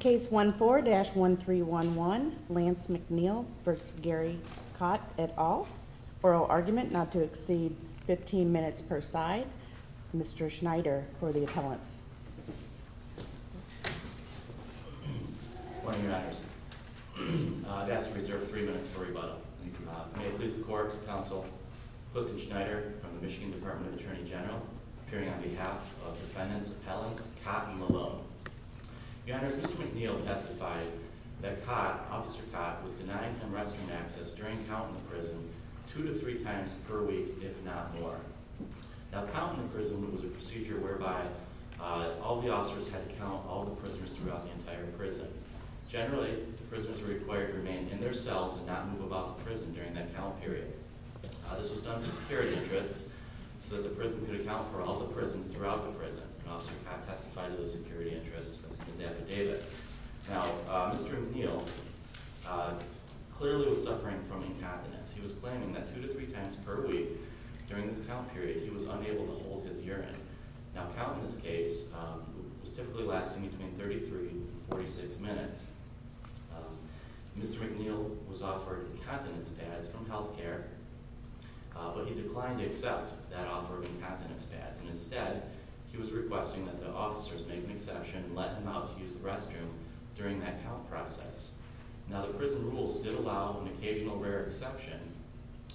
Case 14-1311 Lance McNeal v. Gary Kott et al. Oral argument not to exceed 15 minutes per side. Mr. Schneider for the appellants. Good morning, Your Honors. I've asked to reserve three minutes for rebuttal. May it please the Court, Counsel Clifton Schneider from the Michigan Department of Attorney General, appearing on behalf of defendants, appellants, Kott and Malone. Your Honors, Mr. McNeal testified that Kott, Officer Kott, was denying him restroom access during count in the prison two to three times per week, if not more. Now, count in the prison was a procedure whereby all the officers had to count all the prisoners throughout the entire prison. Generally, the prisoners were required to remain in their cells and not move about the prison during that count period. This was done for security interests so that the prison could account for all the prisoners throughout the prison. Officer Kott testified to those security interests in his affidavit. Now, Mr. McNeal clearly was suffering from incontinence. He was claiming that two to three times per week during this count period, he was unable to hold his urine. Now, count in this case was typically lasting between 33 and 46 minutes. Mr. McNeal was offered incontinence pads from healthcare, but he declined to accept that offer of incontinence pads. Instead, he was requesting that the officers make an exception and let him out to use the restroom during that count process. Now, the prison rules did allow an occasional rare exception,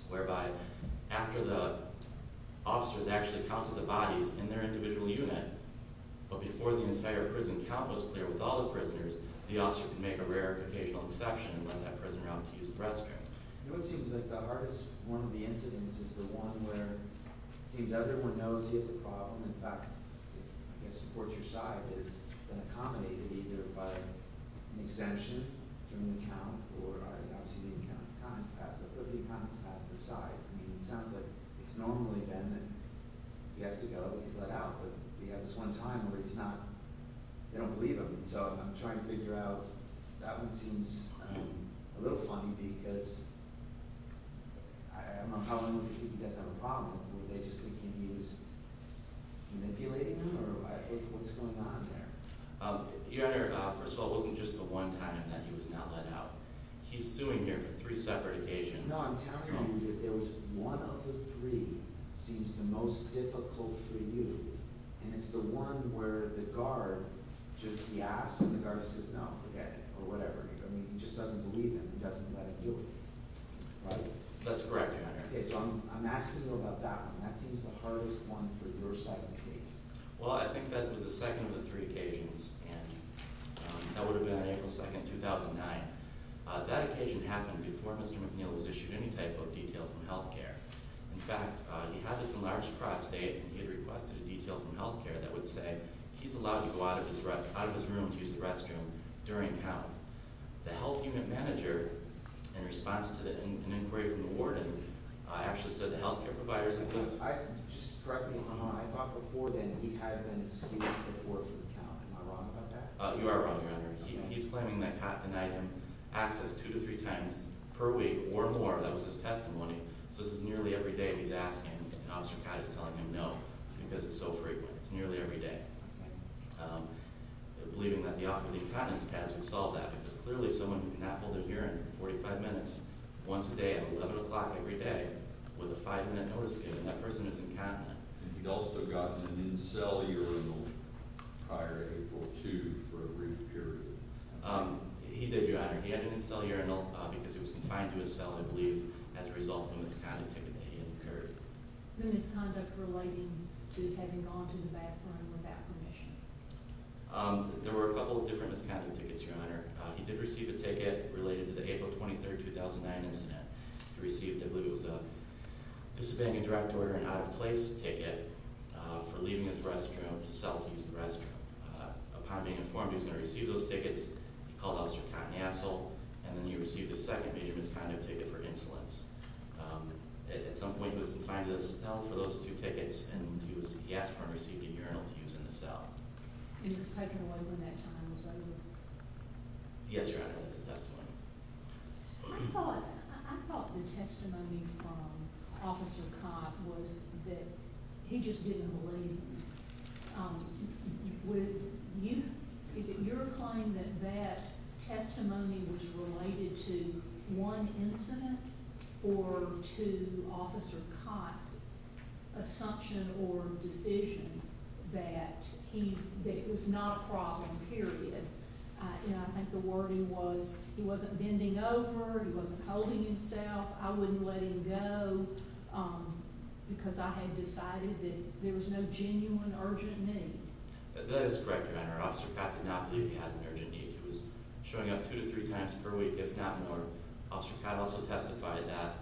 whereby after the officers actually counted the bodies in their individual unit, but before the entire prison count was clear with all the prisoners, the officer could make a rare occasional exception and let that prisoner out to use the restroom. Now, it seems like the hardest one of the incidents is the one where it seems everyone knows he has a problem. In fact, I guess support your side is accommodated either by an exemption from the count or, obviously, the account is passed, but the account is passed aside. I mean, it sounds like it's normally then that he has to go, he's let out, but we had this one time where he's not – they don't believe him. So I'm trying to figure out – that one seems a little funny because I don't know if he does have a problem. Do they just think he was manipulating him or what's going on there? Your Honor, first of all, it wasn't just the one time that he was not let out. He's suing here for three separate occasions. No, I'm telling you that it was one of the three seems the most difficult for you, and it's the one where the guard just – he asks and the guard says, no, forget it or whatever. I mean, he just doesn't believe him. He doesn't let him do it. Right? That's correct, Your Honor. Okay, so I'm asking you about that one. That seems the hardest one for your side of the case. Well, I think that was the second of the three occasions, and that would have been on April 2nd, 2009. That occasion happened before Mr. McNeil was issued any type of detail from health care. In fact, he had this enlarged prostate and he had requested a detail from health care that would say he's allowed to go out of his room to use the restroom during count. The health unit manager, in response to an inquiry from the warden, actually said the health care providers – Just correct me if I'm wrong. I thought before then he had been sued before for the count. Am I wrong about that? You are wrong, Your Honor. He's claiming that Cott denied him access two to three times per week or more. That was his testimony. So this is nearly every day he's asking and Officer Cott is telling him no because it's so frequent. It's nearly every day. Okay. Believing that the offer of the incontinence pads would solve that because clearly someone who cannot hold their hearing for 45 minutes, once a day at 11 o'clock every day, with a five-minute notice given, that person is incontinent. And he'd also gotten an in-cell urinal prior to April 2 for a brief period. He did, Your Honor. He had an in-cell urinal because it was confined to his cell, I believe, as a result of a misconduct ticket that he incurred. Any misconduct relating to having gone to the bathroom without permission? There were a couple of different misconduct tickets, Your Honor. He did receive a ticket related to the April 23, 2009 incident. He received, I believe it was, anticipating a direct order, an out-of-place ticket for leaving his restroom to self-use the restroom. Upon being informed he was going to receive those tickets, he called Officer Cott an asshole, and then he received a second major misconduct ticket for insolence. At some point he was confined to the cell for those two tickets, and he asked for and received a urinal to use in the cell. And it was taken away from him that time, was that it? Yes, Your Honor. That's the testimony. I thought the testimony from Officer Cott was that he just didn't believe him. Is it your claim that that testimony was related to one incident or to Officer Cott's assumption or decision that it was not a problem, period? I think the wording was he wasn't bending over, he wasn't holding himself. I wouldn't let him go because I had decided that there was no genuine urgent need. That is correct, Your Honor. Officer Cott did not believe he had an urgent need. He was showing up two to three times per week, if not more. Officer Cott also testified that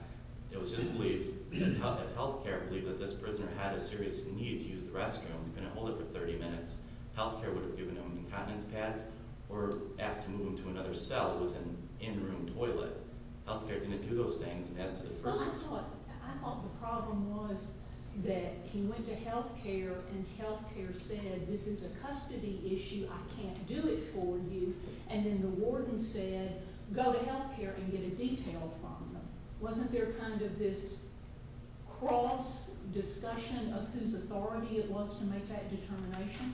it was his belief, if health care believed that this prisoner had a serious need to use the restroom, he couldn't hold it for 30 minutes. Health care would have given him incontinence pads or asked to move him to another cell with an in-room toilet. Health care didn't do those things. I thought the problem was that he went to health care and health care said, this is a custody issue, I can't do it for you. And then the warden said, go to health care and get a detail from them. Wasn't there kind of this cross discussion of whose authority it was to make that determination?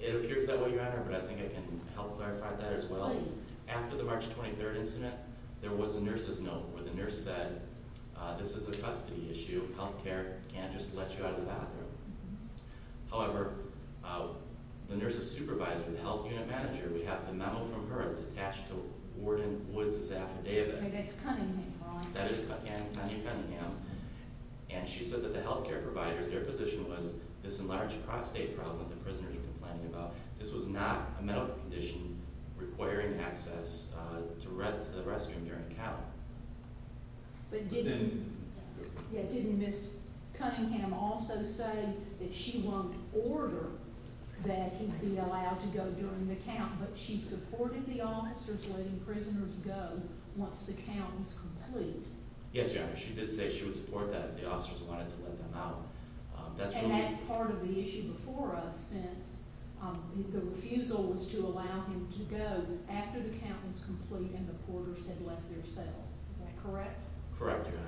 It appears that way, Your Honor, but I think I can help clarify that as well. After the March 23rd incident, there was a nurse's note where the nurse said, this is a custody issue, health care can't just let you out of the bathroom. However, the nurse's supervisor, the health unit manager, we have a memo from her that's attached to Warden Woods' affidavit. That's Cunningham, Your Honor. That is Connie Cunningham, and she said that the health care providers, their position was this enlarged prostate problem that the prisoners were complaining about. This was not a medical condition requiring access to the restroom during count. But didn't Ms. Cunningham also say that she won't order that he be allowed to go during the count? But she supported the officers letting prisoners go once the count was complete. Yes, Your Honor, she did say she would support that if the officers wanted to let them out. And that's part of the issue before us since the refusal was to allow him to go after the count was complete and the porters had left their cells. Is that correct? Correct, Your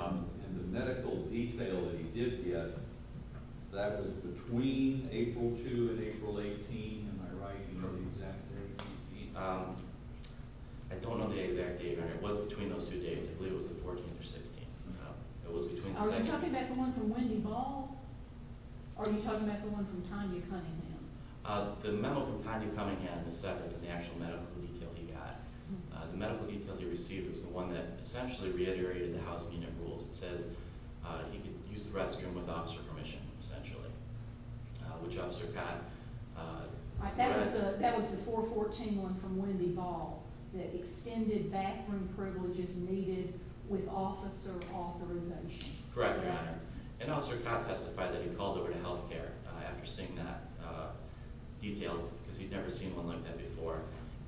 Honor. And the medical detail that he did get, that was between April 2 and April 18, am I right? I don't know the exact date. I don't know the exact date, Your Honor. It was between those two dates. I believe it was the 14th or 16th. It was between the second date. Are you talking about the one from Wendy Ball? Or are you talking about the one from Tanya Cunningham? The memo from Tanya Cunningham is separate than the actual medical detail he got. The medical detail he received was the one that essentially reiterated the house unit rules. It says he could use the restroom with officer permission, essentially, which officer got. That was the 414 one from Wendy Ball, the extended bathroom privileges needed with officer authorization. Correct, Your Honor. And Officer Cobb testified that he called over to health care after seeing that detail because he'd never seen one like that before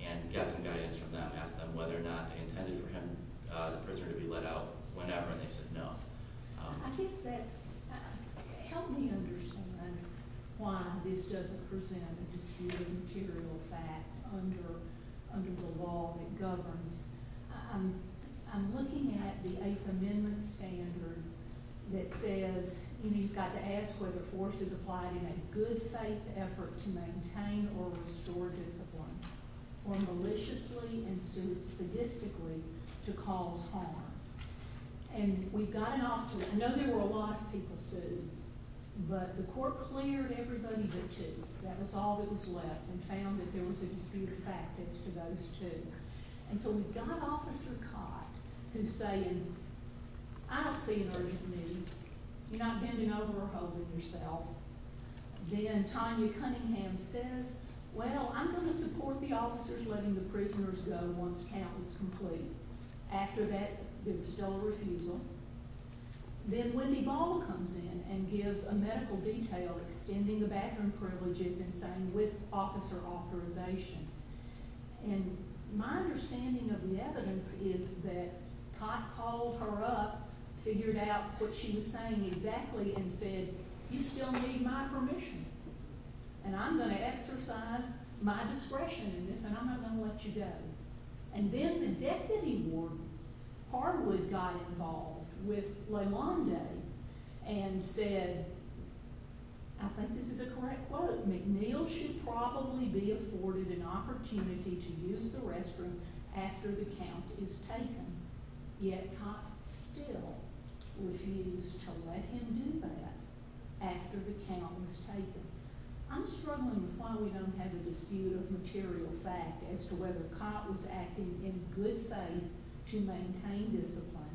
and got some guidance from them, asked them whether or not they intended for him, the prisoner, to be let out whenever, and they said no. I guess that's—help me understand, then, why this doesn't present a disputed material fact under the law that governs. I'm looking at the Eighth Amendment standard that says you've got to ask whether force is applied in a good-faith effort to maintain or restore discipline or maliciously and sadistically to cause harm. And we've got an officer—I know there were a lot of people sued, but the court cleared everybody but two. That was all that was left and found that there was a disputed fact as to those two. And so we've got Officer Cott who's saying, I don't see an urgent need. You're not bending over or holding yourself. Then Tanya Cunningham says, well, I'm going to support the officers letting the prisoners go once count is complete. After that, there was still a refusal. Then Wendy Ball comes in and gives a medical detail extending the bathroom privileges and saying, with officer authorization. And my understanding of the evidence is that Cott called her up, figured out what she was saying exactly, and said, you still need my permission, and I'm going to exercise my discretion in this, and I'm not going to let you go. And then the deputy warden, Harwood, got involved with LeMonde and said, I think this is a correct quote, McNeil should probably be afforded an opportunity to use the restroom after the count is taken. Yet Cott still refused to let him do that after the count was taken. I'm struggling with why we don't have a dispute of material fact as to whether Cott was acting in good faith to maintain discipline,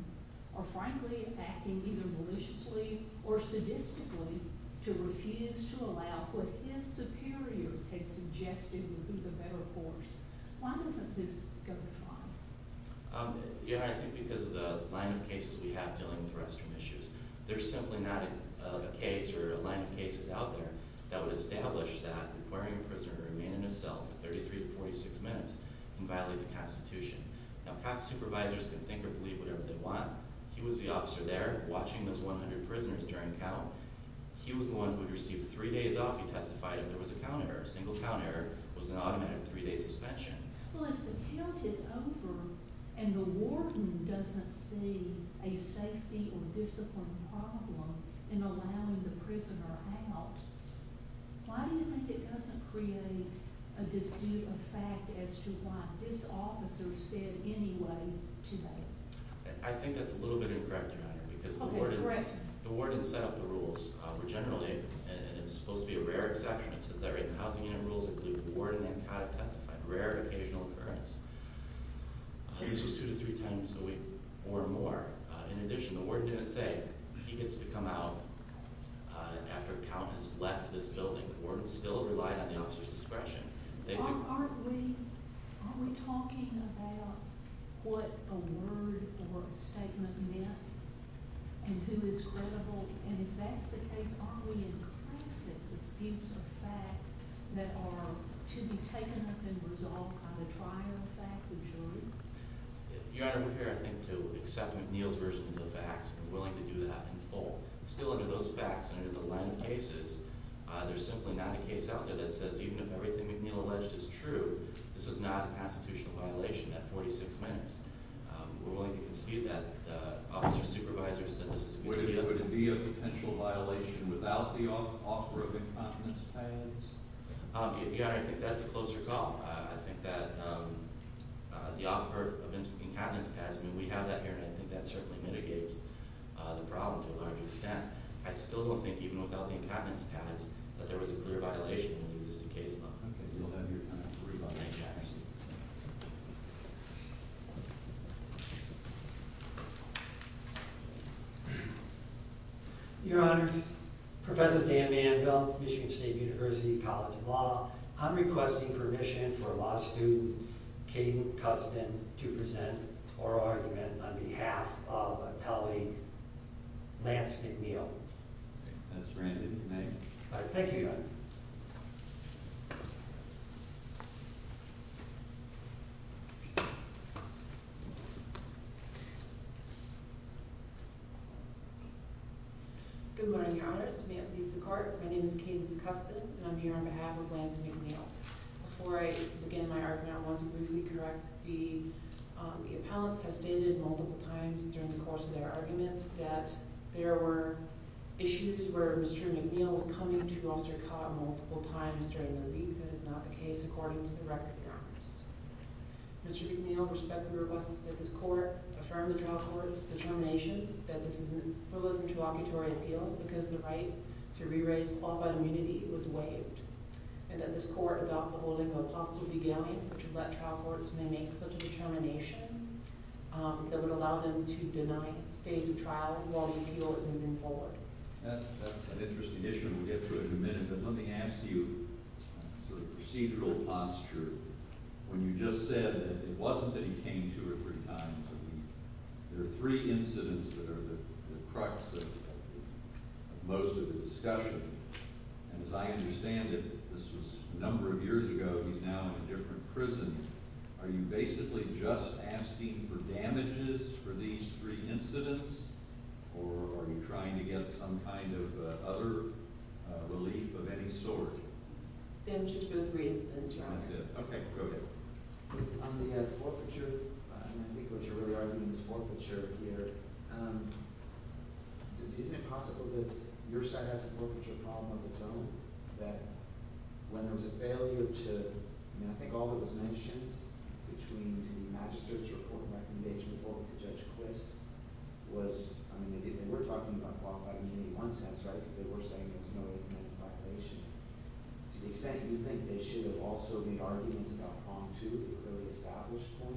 or frankly, acting either maliciously or sadistically to refuse to allow what his superiors had suggested would be the better course. Why doesn't this go to file? Yeah, I think because of the line of cases we have dealing with restroom issues. There's simply not a case or a line of cases out there that would establish that requiring a prisoner to remain in a cell for 33 to 46 minutes can violate the Constitution. Now, Cott's supervisors can think or believe whatever they want. He was the officer there watching those 100 prisoners during count. He was the one who would receive three days off. He testified if there was a count error. A single count error was an automated three-day suspension. Well, if the count is over and the warden doesn't see a safety or discipline problem in allowing the prisoner out, why do you think it doesn't create a dispute of fact as to what this officer said anyway today? I think that's a little bit incorrect, Your Honor, because the warden set up the rules. Generally, it's supposed to be a rare exception. It says, at that rate, the housing unit rules include the warden and Cott have testified. Rare occasional occurrence. This was two to three times a week or more. In addition, the warden didn't say he gets to come out after a count has left this building. The warden still relied on the officer's discretion. Aren't we talking about what a word or a statement meant and who is credible? And if that's the case, aren't we in classic disputes of fact that are to be taken up and resolved on the trial fact, the jury? Your Honor, we're here, I think, to accept McNeil's version of the facts. We're willing to do that in full. Still, under those facts and under the line of cases, there's simply not a case out there that says, even if everything McNeil alleged is true, this is not an constitutional violation at 46 minutes. We're willing to concede that the officer's supervisor said this. Would it be a potential violation without the offer of incontinence pads? Your Honor, I think that's a closer call. I think that the offer of incontinence pads, I mean, we have that here, and I think that certainly mitigates the problem to a large extent. I still don't think, even without the incontinence pads, that there was a clear violation in the existing case law. Okay, we'll have your time for rebuttal, Jackson. Your Honor, Professor Dan Manville, Michigan State University College of Law. I'm requesting permission for a law student, Caden Custin, to present oral argument on behalf of my colleague, Lance McNeil. That's granted in your name. Thank you, Your Honor. Good morning, Your Honor. My name is Caden Custin, and I'm here on behalf of Lance McNeil. Before I begin my argument, I want to briefly correct the appellants. I've stated multiple times during the course of their argument that there were issues where Mr. McNeil was coming to Officer Cott multiple times during their brief. That is not the case, according to the record, Your Honors. Mr. McNeil, respectfully requests that this court affirm the trial court's determination that this is in frivolous interlocutory appeal because the right to re-raise qualified immunity was waived, and that this court adopt the holding of a positive beginning to let trial courts make such a determination that would allow them to deny stays in trial while the appeal is moving forward. That's an interesting issue. We'll get to it in a minute, but let me ask you sort of procedural posture. When you just said that it wasn't that he came two or three times a week, there are three incidents that are the crux of most of the discussion. And as I understand it, this was a number of years ago. He's now in a different prison. Are you basically just asking for damages for these three incidents, or are you trying to get some kind of other relief of any sort? Damages for the three incidents, Your Honor. That's it. Okay, go ahead. On the forfeiture, and I think what you're really arguing is forfeiture here, is it possible that your side has a forfeiture problem of its own, that when there was a failure to—I mean, I think all that was mentioned between the Magistrate's report and the recommendation before it to Judge Quist was—I mean, they were talking about qualified immunity in one sense, right, because they were saying there was no way to prevent the violation. To the extent you think they should have also made arguments about prong two, the clearly established point,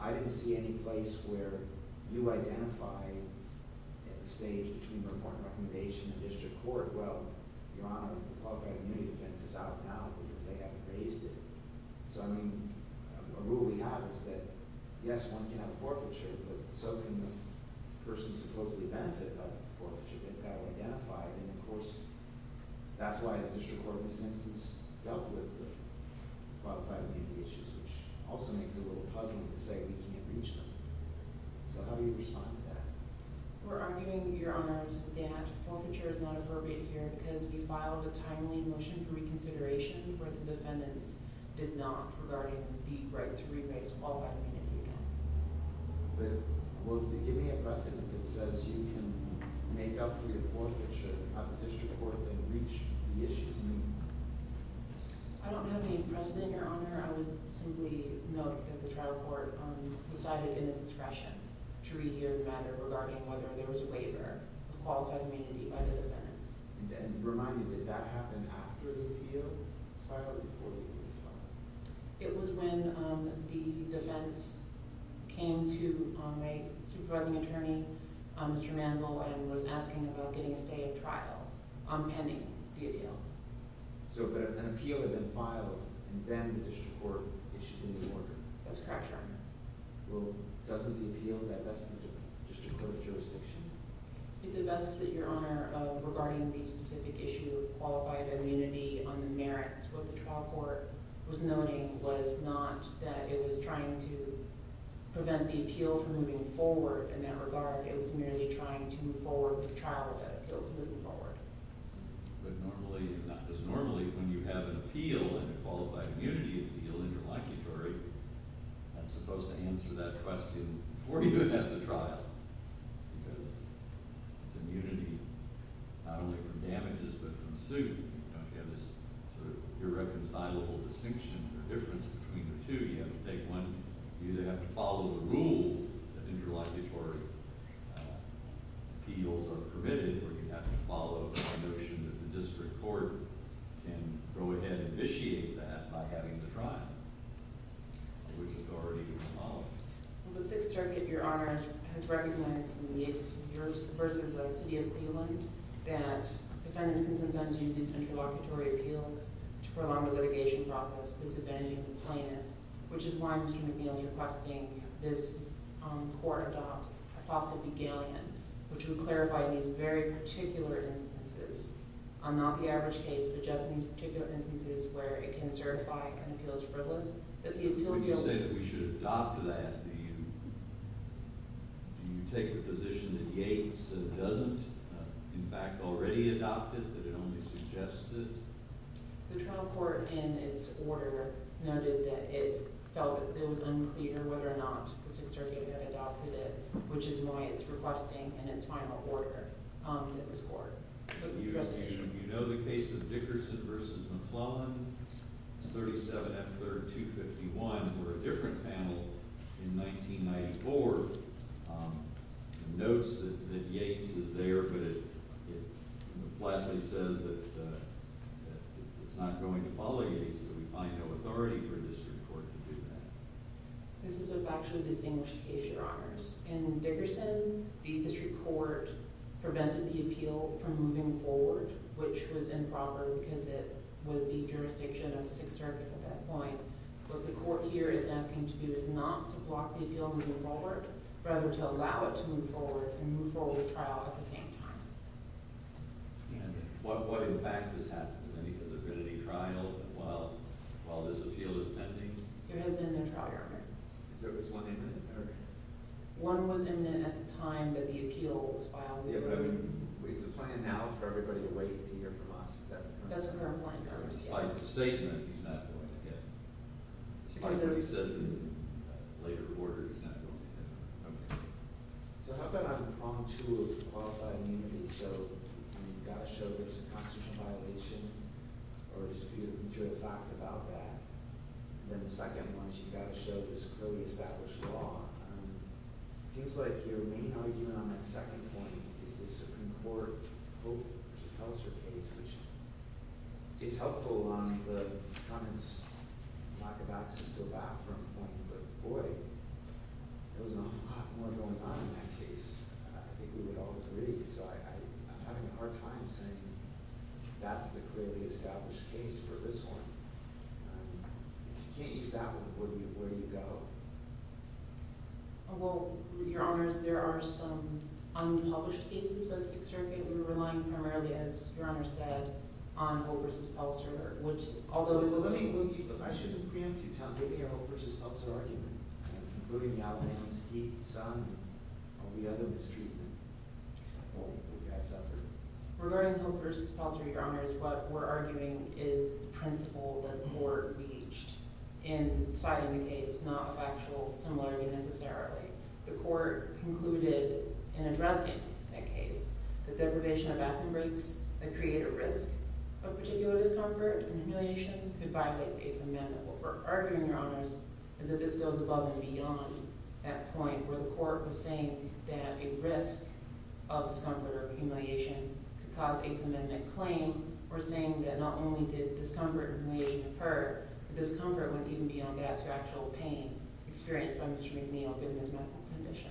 I didn't see any place where you identified at the stage between the report and recommendation in the district court, well, Your Honor, qualified immunity defense is out now because they have phased it. So, I mean, a rule we have is that, yes, one can have a forfeiture, but so can the person supposedly benefit from the forfeiture if that were identified. And, of course, that's why the district court in this instance dealt with the qualified immunity issues, which also makes it a little puzzling to say we can't reach them. So how do you respond to that? We're arguing, Your Honors, that forfeiture is not appropriate here because we filed a timely motion for reconsideration where the defendants did not, regarding the right to re-raise qualified immunity again. But will they give me a precedent that says you can make up for your forfeiture at the district court and reach the issues? I don't have any precedent, Your Honor. I would simply note that the trial court decided in its discretion to rehear the matter regarding whether there was a waiver of qualified immunity by the defendants. And remind me, did that happen after the appeal was filed or before the appeal was filed? It was when the defense came to my supervising attorney, Mr. Mandel, and was asking about getting a stay at trial on pending the appeal. So, but an appeal had been filed and then the district court issued a new order. That's correct, Your Honor. Well, doesn't the appeal divest the district court of jurisdiction? It divests it, Your Honor, of regarding the specific issue of qualified immunity on the merits what the trial court was noting was not that it was trying to prevent the appeal from moving forward in that regard. It was merely trying to move forward with the trial if that appeal was moving forward. But normally, not just normally, when you have an appeal, a qualified immunity appeal in your locutory, that's supposed to answer that question before you have the trial. Because it's immunity not only from damages but from suit. You know, if you have this sort of irreconcilable distinction or difference between the two, you have to take one, you either have to follow the rule that interlocutory appeals are permitted or you have to follow the notion that the district court can go ahead and vitiate that by having the trial, which is already being followed. Well, the Sixth Circuit, Your Honor, has recognized in the case versus the City of Cleveland that defendants can sometimes use these interlocutory appeals to prolong the litigation process, disadvantaging the plaintiff, which is why Mr. McNeil is requesting this court adopt a fossil begallion, which would clarify these very particular instances on not the average case but just these particular instances where it can certify an appeal as frivolous. When you say that we should adopt that, do you take the position that Yates doesn't, in fact, already adopt it, that it only suggested? The trial court, in its order, noted that it felt that it was unclear whether or not the Sixth Circuit had adopted it, which is why it's requesting, in its final order, that this court look at the resolution. You know the case of Dickerson v. McClellan, 37 F. 3rd 251, for a different panel in 1994. It notes that Yates is there, but it flatly says that it's not going to follow Yates, that we find no authority for a district court to do that. This is a factually distinguished case, Your Honors. In Dickerson, the district court prevented the appeal from moving forward, which was improper because it was the jurisdiction of the Sixth Circuit at that point. What the court here is asking to do is not to block the appeal moving forward, but rather to allow it to move forward and move forward with trial at the same time. There has been no trial, Your Honor. One was imminent at the time that the appeal was filed. Yeah, but I mean, is the plan now for everybody to wait to hear from us, is that correct? That's a fair point, Your Honors, yes. By statement, he's not going to get it. By what he says in later order, he's not going to get it. Okay. So how about on tool of qualified immunity? So you've got to show there's a constitutional violation or dispute to a fact about that. And then the second one is you've got to show there's a clearly established law. It seems like your main argument on that second point is this Concord-Hope-Chapelser case, which is helpful on the defundants' lack of access to a bathroom point, but boy, there was an awful lot more going on in that case. I think we would all agree. So I'm having a hard time saying that's the clearly established case for this one. If you can't use that one, where do you go? Well, Your Honors, there are some unpublished cases by the Sixth Circuit. We're relying primarily, as Your Honor said, on Hope v. Peltzer. I shouldn't preempt you. Tell me your Hope v. Peltzer argument. Including the outlandish heat and sun of the other mistreatment. Well, the guy suffered. Regarding Hope v. Peltzer, Your Honors, what we're arguing is the principle that the court reached in citing the case, not a factual similarity necessarily. The court concluded in addressing that case that deprivation of bathroom breaks that create a risk of particular discomfort and humiliation could violate the eighth amendment. What we're arguing, Your Honors, is that this goes above and beyond that point where the court was saying that a risk of discomfort or humiliation could cause eighth amendment claim. We're saying that not only did discomfort and humiliation occur, but discomfort went even beyond that to actual pain experienced by Mr. McNeil given his medical condition.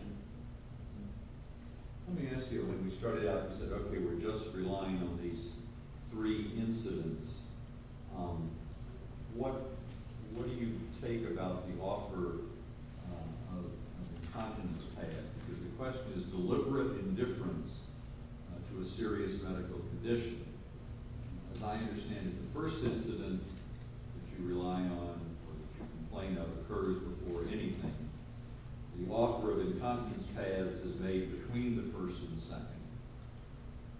Let me ask you, when we started out and said, okay, we're just relying on these three incidents, what do you take about the offer of incontinence pads? Because the question is deliberate indifference to a serious medical condition. As I understand it, the first incident that you rely on or that you complain of occurs before anything. The offer of incontinence pads is made between the first and second.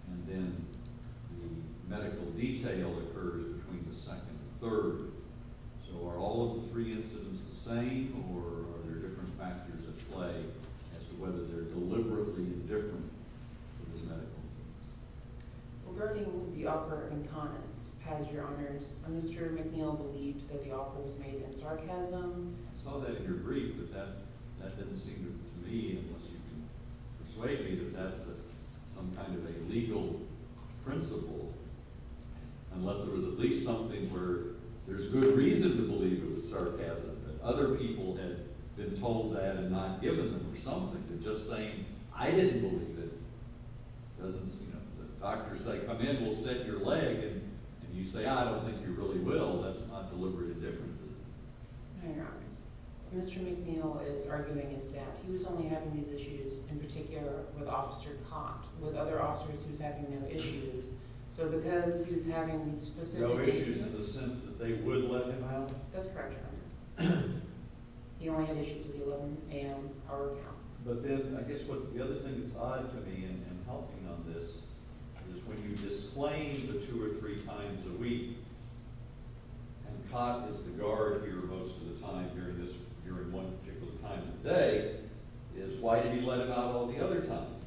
And then the medical detail occurs between the second and third. So are all of the three incidents the same, or are there different factors at play as to whether they're deliberately indifferent to his medical needs? Regarding the offer of incontinence pads, Your Honors, Mr. McNeil believed that the offer was made in sarcasm. I saw that in your brief, but that didn't seem to me, unless you can persuade me that that's some kind of a legal principle, unless there was at least something where there's good reason to believe it was sarcasm, that other people had been told that and not given them or something, that just saying, I didn't believe it, doesn't seem to. The doctor's like, a man will set your leg, and you say, I don't think you really will. That's not deliberate indifference, is it? No, Your Honors. Mr. McNeil is arguing that he was only having these issues in particular with Officer Cott, with other officers who's having no issues. So because he's having specific issues in the sense that they would let him out? That's correct, Your Honor. He only had issues with the 11 a.m. hour count. But then I guess the other thing that's odd to me in helping on this is when you disclaim the two or three times a week, and Cott is the guard here most of the time during one particular time of day, is why did he let him out all the other times?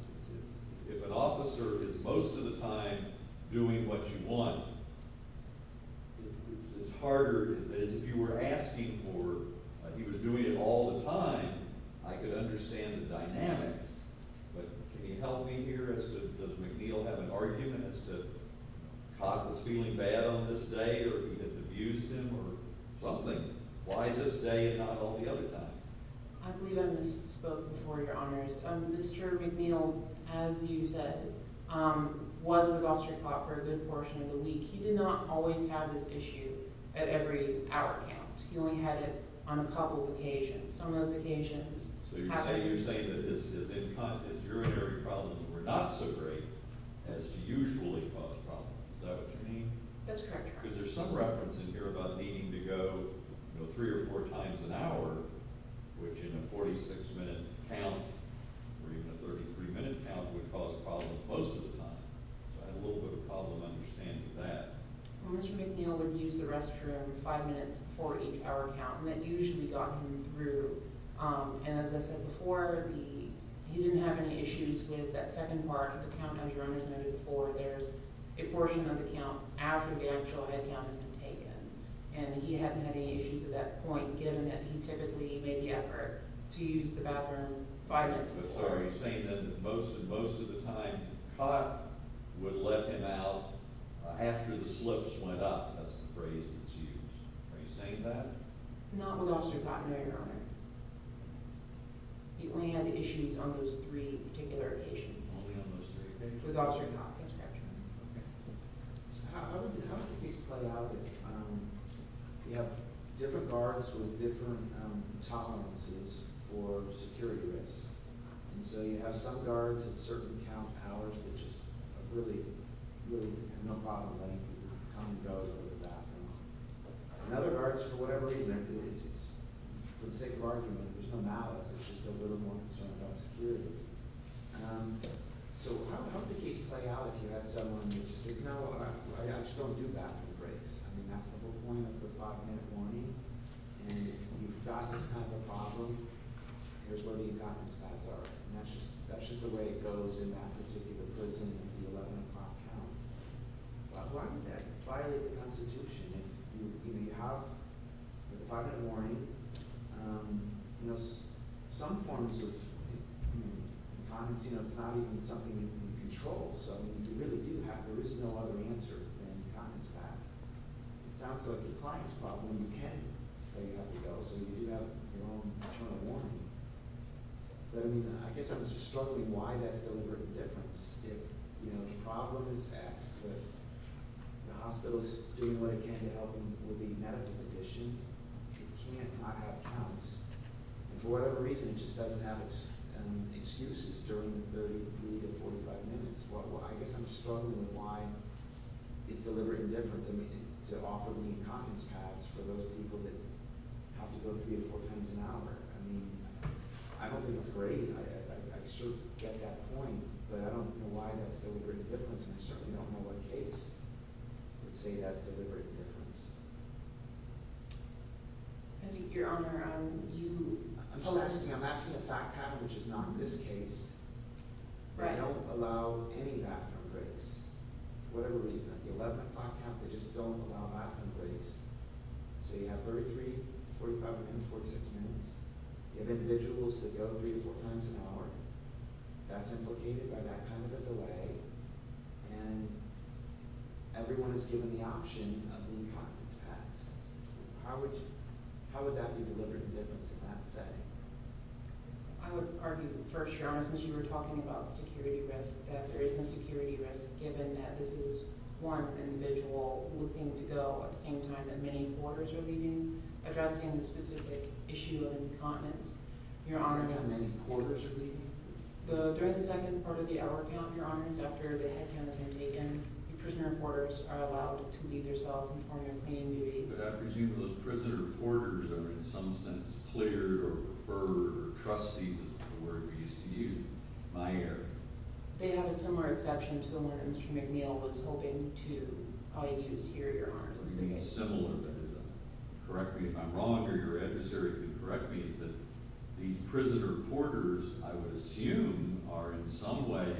If an officer is most of the time doing what you want, it's harder, as if you were asking for, he was doing it all the time, I could understand the dynamics, but can you help me here as to does McNeil have an argument as to Cott was feeling bad on this day or he had abused him or something? Why this day and not all the other time? I believe I misspoke before, Your Honors. Mr. McNeil, as you said, was with Officer Cott for a good portion of the week. He did not always have this issue at every hour count. He only had it on a couple of occasions. Some of those occasions… So you're saying that his urinary problems were not so great as to usually cause problems. Is that what you mean? That's correct, Your Honors. Because there's some reference in here about needing to go three or four times an hour, which in a 46-minute count, or even a 33-minute count, would cause problems most of the time. So I had a little bit of a problem understanding that. Mr. McNeil would use the restroom five minutes before each hour count, and that usually got him through. And as I said before, he didn't have any issues with that second part of the count, as Your Honors noted before. There's a portion of the count after the actual head count has been taken. And he hadn't had any issues at that point, given that he typically made the effort to use the bathroom five minutes before. So are you saying that most of the time, Cott would let him out after the slips went up? That's the phrase that's used. Are you saying that? Not with Officer Cott, No, Your Honor. He only had issues on those three particular occasions. Only on those three? With Officer Cott. That's correct. Okay. So how do these play out? You have different guards with different tolerances for security risks. And so you have some guards at certain count hours that just really have no problem letting Cott go to the bathroom. And other guards, for whatever reason, for the sake of argument, there's no malice. It's just a little more concerned about security. So how do these play out if you have someone who just says, No, I just don't do bathroom breaks. I mean, that's the whole point of the five-minute warning. And if you've got this kind of a problem, here's where the incontinence pads are. And that's just the way it goes in that particular prison at the 11 o'clock count. Why would that violate the Constitution? If you have the five-minute warning, some forms of incontinence, it's not even something that you control. So you really do have, there is no other answer than incontinence pads. It sounds like a client's problem. You can, but you have to go. So you do have your own internal warning. But, I mean, I guess I'm just struggling why that's deliberate indifference. If, you know, the problem is asked that the hospital is doing what it can to help with the medical condition, it can't not have counts. And for whatever reason, it just doesn't have excuses during the 30 to 45 minutes. Well, I guess I'm struggling with why it's deliberate indifference, I mean, to offer the incontinence pads for those people that have to go three or four times an hour. I mean, I don't think that's great. I sort of get that point, but I don't know why that's deliberate indifference, and I certainly don't know what case would say that's deliberate indifference. Your Honor, you – I'm just asking. I'm asking a fact pattern, which is not in this case. They don't allow any bathroom breaks. For whatever reason, at the 11 o'clock count, they just don't allow bathroom breaks. So you have 33, 45, and 46 minutes. You have individuals that go three to four times an hour. That's implicated by that kind of a delay, and everyone is given the option of the incontinence pads. How would that be deliberate indifference in that setting? I would argue first, Your Honor, since you were talking about security risk, that there is a security risk given that this is one individual looking to go at the same time that many reporters are leaving, addressing the specific issue of incontinence. At the same time that many reporters are leaving? During the second part of the hour count, Your Honor, after the head count has been taken, the prisoner reporters are allowed to leave their cells and perform their cleaning duties. But I presume those prisoner reporters are, in some sense, cleared or preferred or trustees is the word we used to use in my area. They have a similar exception to the one Mr. McNeil was hoping to use here, Your Honor. You mean similar, that is correct me if I'm wrong, or your adversary can correct me, is that these prisoner reporters, I would assume, are in some way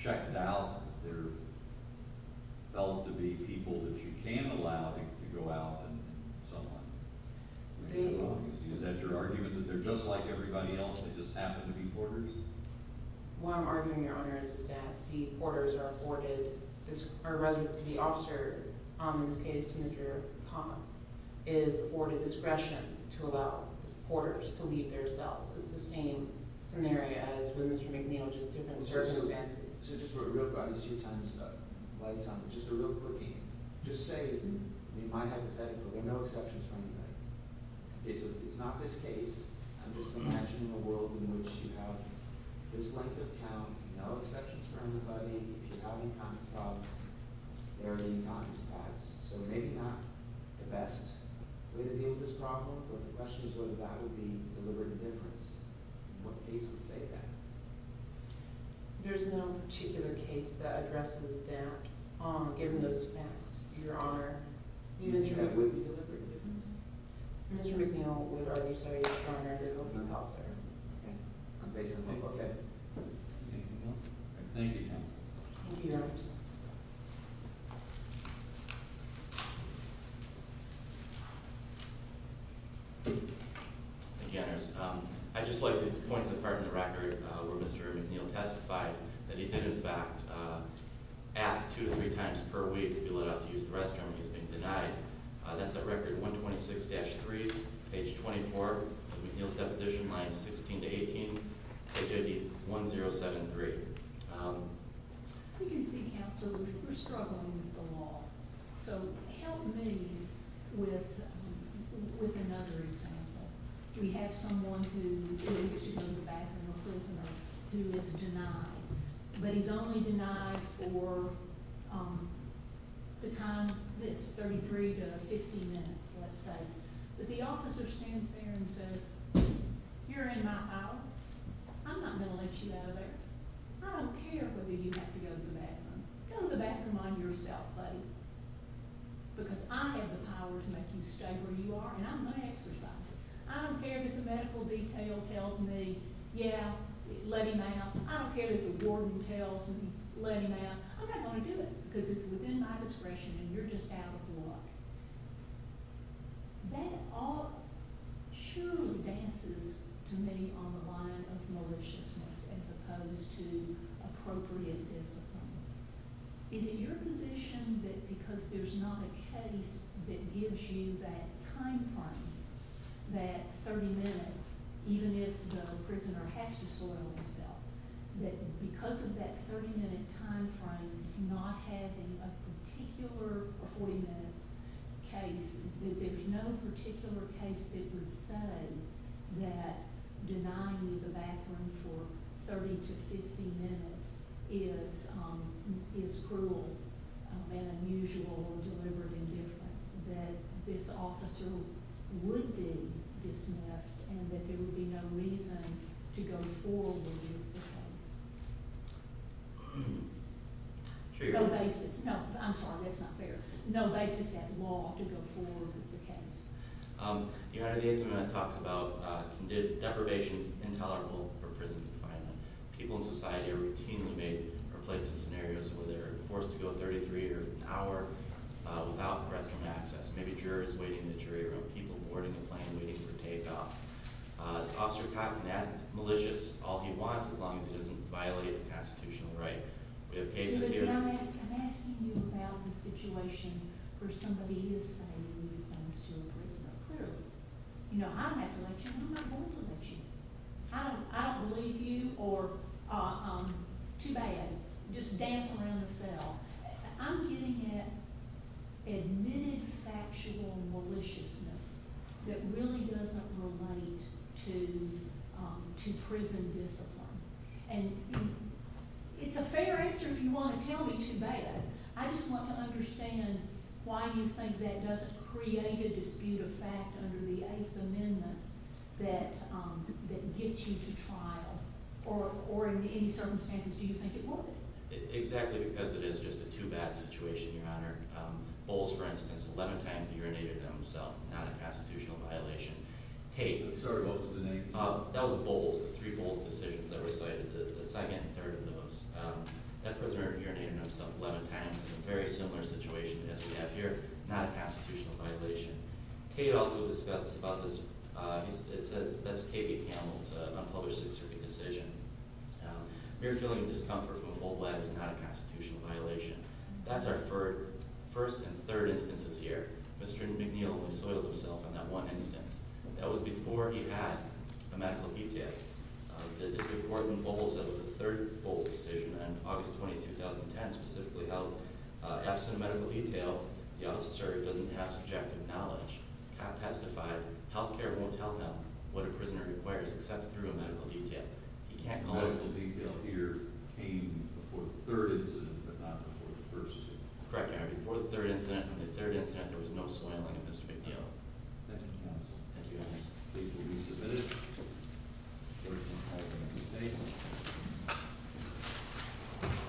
checked out. They're felt to be people that you can allow to go out and somehow. Is that your argument, that they're just like everybody else, they just happen to be reporters? What I'm arguing, Your Honor, is that the reporters are afforded, or rather the officer, in this case, Mr. Palmer, is afforded discretion to allow reporters to leave their cells. It's the same scenario as with Mr. McNeil, just different circumstances. So just real quick, I'm going to see if time is up. Just a real quickie. Just say, in my hypothetical, there are no exceptions for anybody. Okay, so if it's not this case, I'm just imagining a world in which you have this length of count, no exceptions for anybody. If you have incontinence problems, there are incontinence paths. So maybe not the best way to deal with this problem, but the question is whether that would be deliberate indifference. What case would say that? There's no particular case that addresses that, given those facts, Your Honor. Do you mean that would be deliberate indifference? Mr. McNeil would argue so, Your Honor. Okay. Anything else? Thank you, counsel. Thank you, Your Honors. Thank you, Your Honors. I'd just like to point to the part in the record where Mr. McNeil testified that he did, in fact, ask two to three times per week to be let out to use the restroom. He's been denied. That's at Record 126-3, Page 24, McNeil's Deposition Lines 16 to 18, H.I.D. 1073. We can see, counsel, that we're struggling with the law. So help me with another example. We have someone who needs to go to the bathroom, a prisoner, who is denied. But he's only denied for the time that's 33 to 50 minutes, let's say. But the officer stands there and says, you're in my power. I'm not going to let you out of there. I don't care whether you have to go to the bathroom. Go to the bathroom on yourself, buddy, because I have the power to make you stay where you are, and I'm going to exercise it. I don't care that the medical detail tells me, yeah, let him out. I don't care that the warden tells me, let him out. I'm not going to do it because it's within my discretion, and you're just out of luck. That all surely dances to me on the line of maliciousness as opposed to appropriate discipline. Is it your position that because there's not a case that gives you that timeframe, that 30 minutes, even if the prisoner has to soil himself, that because of that 30-minute timeframe, not having a particular 40-minute case, that there's no particular case that would say that denying you the bathroom for 30 to 50 minutes is cruel and unusual or deliberate indifference, that this officer would be dismissed and that there would be no reason to go forward with the case? No basis. No, I'm sorry, that's not fair. No basis at law to go forward with the case. Your Honor, the MPMF talks about deprivations intolerable for prison confinement. People in society are routinely placed in scenarios where they're forced to go 33 or an hour without prison access. Maybe jurors waiting in the jury room, people boarding a plane waiting for takeoff. Officer Cotton, that's malicious all he wants as long as he doesn't violate a constitutional right. We have cases here— I'm asking you about the situation where somebody is saying these things to a prisoner, clearly. You know, I'm not going to let you. I'm not going to let you. I don't believe you or—too bad, just dance around the cell. I'm getting at admitted factual maliciousness that really doesn't relate to prison discipline. And it's a fair answer if you want to tell me too bad. I just want to understand why you think that doesn't create a dispute of fact under the Eighth Amendment that gets you to trial or in any circumstances do you think it would? Exactly because it is just a too bad situation, Your Honor. Bowles, for instance, 11 times urinated on himself, not a constitutional violation. Tate— I'm sorry, what was the name? That was Bowles, the three Bowles decisions that were cited, the second and third of those. That prisoner urinated on himself 11 times in a very similar situation as we have here, not a constitutional violation. Tate also discussed about this. It says—that's Tate v. Campbell, it's an unpublished Sixth Circuit decision. Mere feeling of discomfort from a full bladder is not a constitutional violation. That's our first and third instances here. Mr. McNeil only soiled himself on that one instance. That was before he had a medical detail. The District Court in Bowles said it was the third Bowles decision in August 20, 2010, specifically how, absent a medical detail, the officer doesn't have subjective knowledge. The cop testified, health care won't tell him what a prisoner requires except through a medical detail. He can't call it— The medical detail here came before the third incident but not before the first. Correct, Your Honor. Before the third incident, on the third incident, there was no soiling of Mr. McNeil. Thank you, counsel. Thank you, Your Honor. These will be submitted to the Court of Appellate of the United States.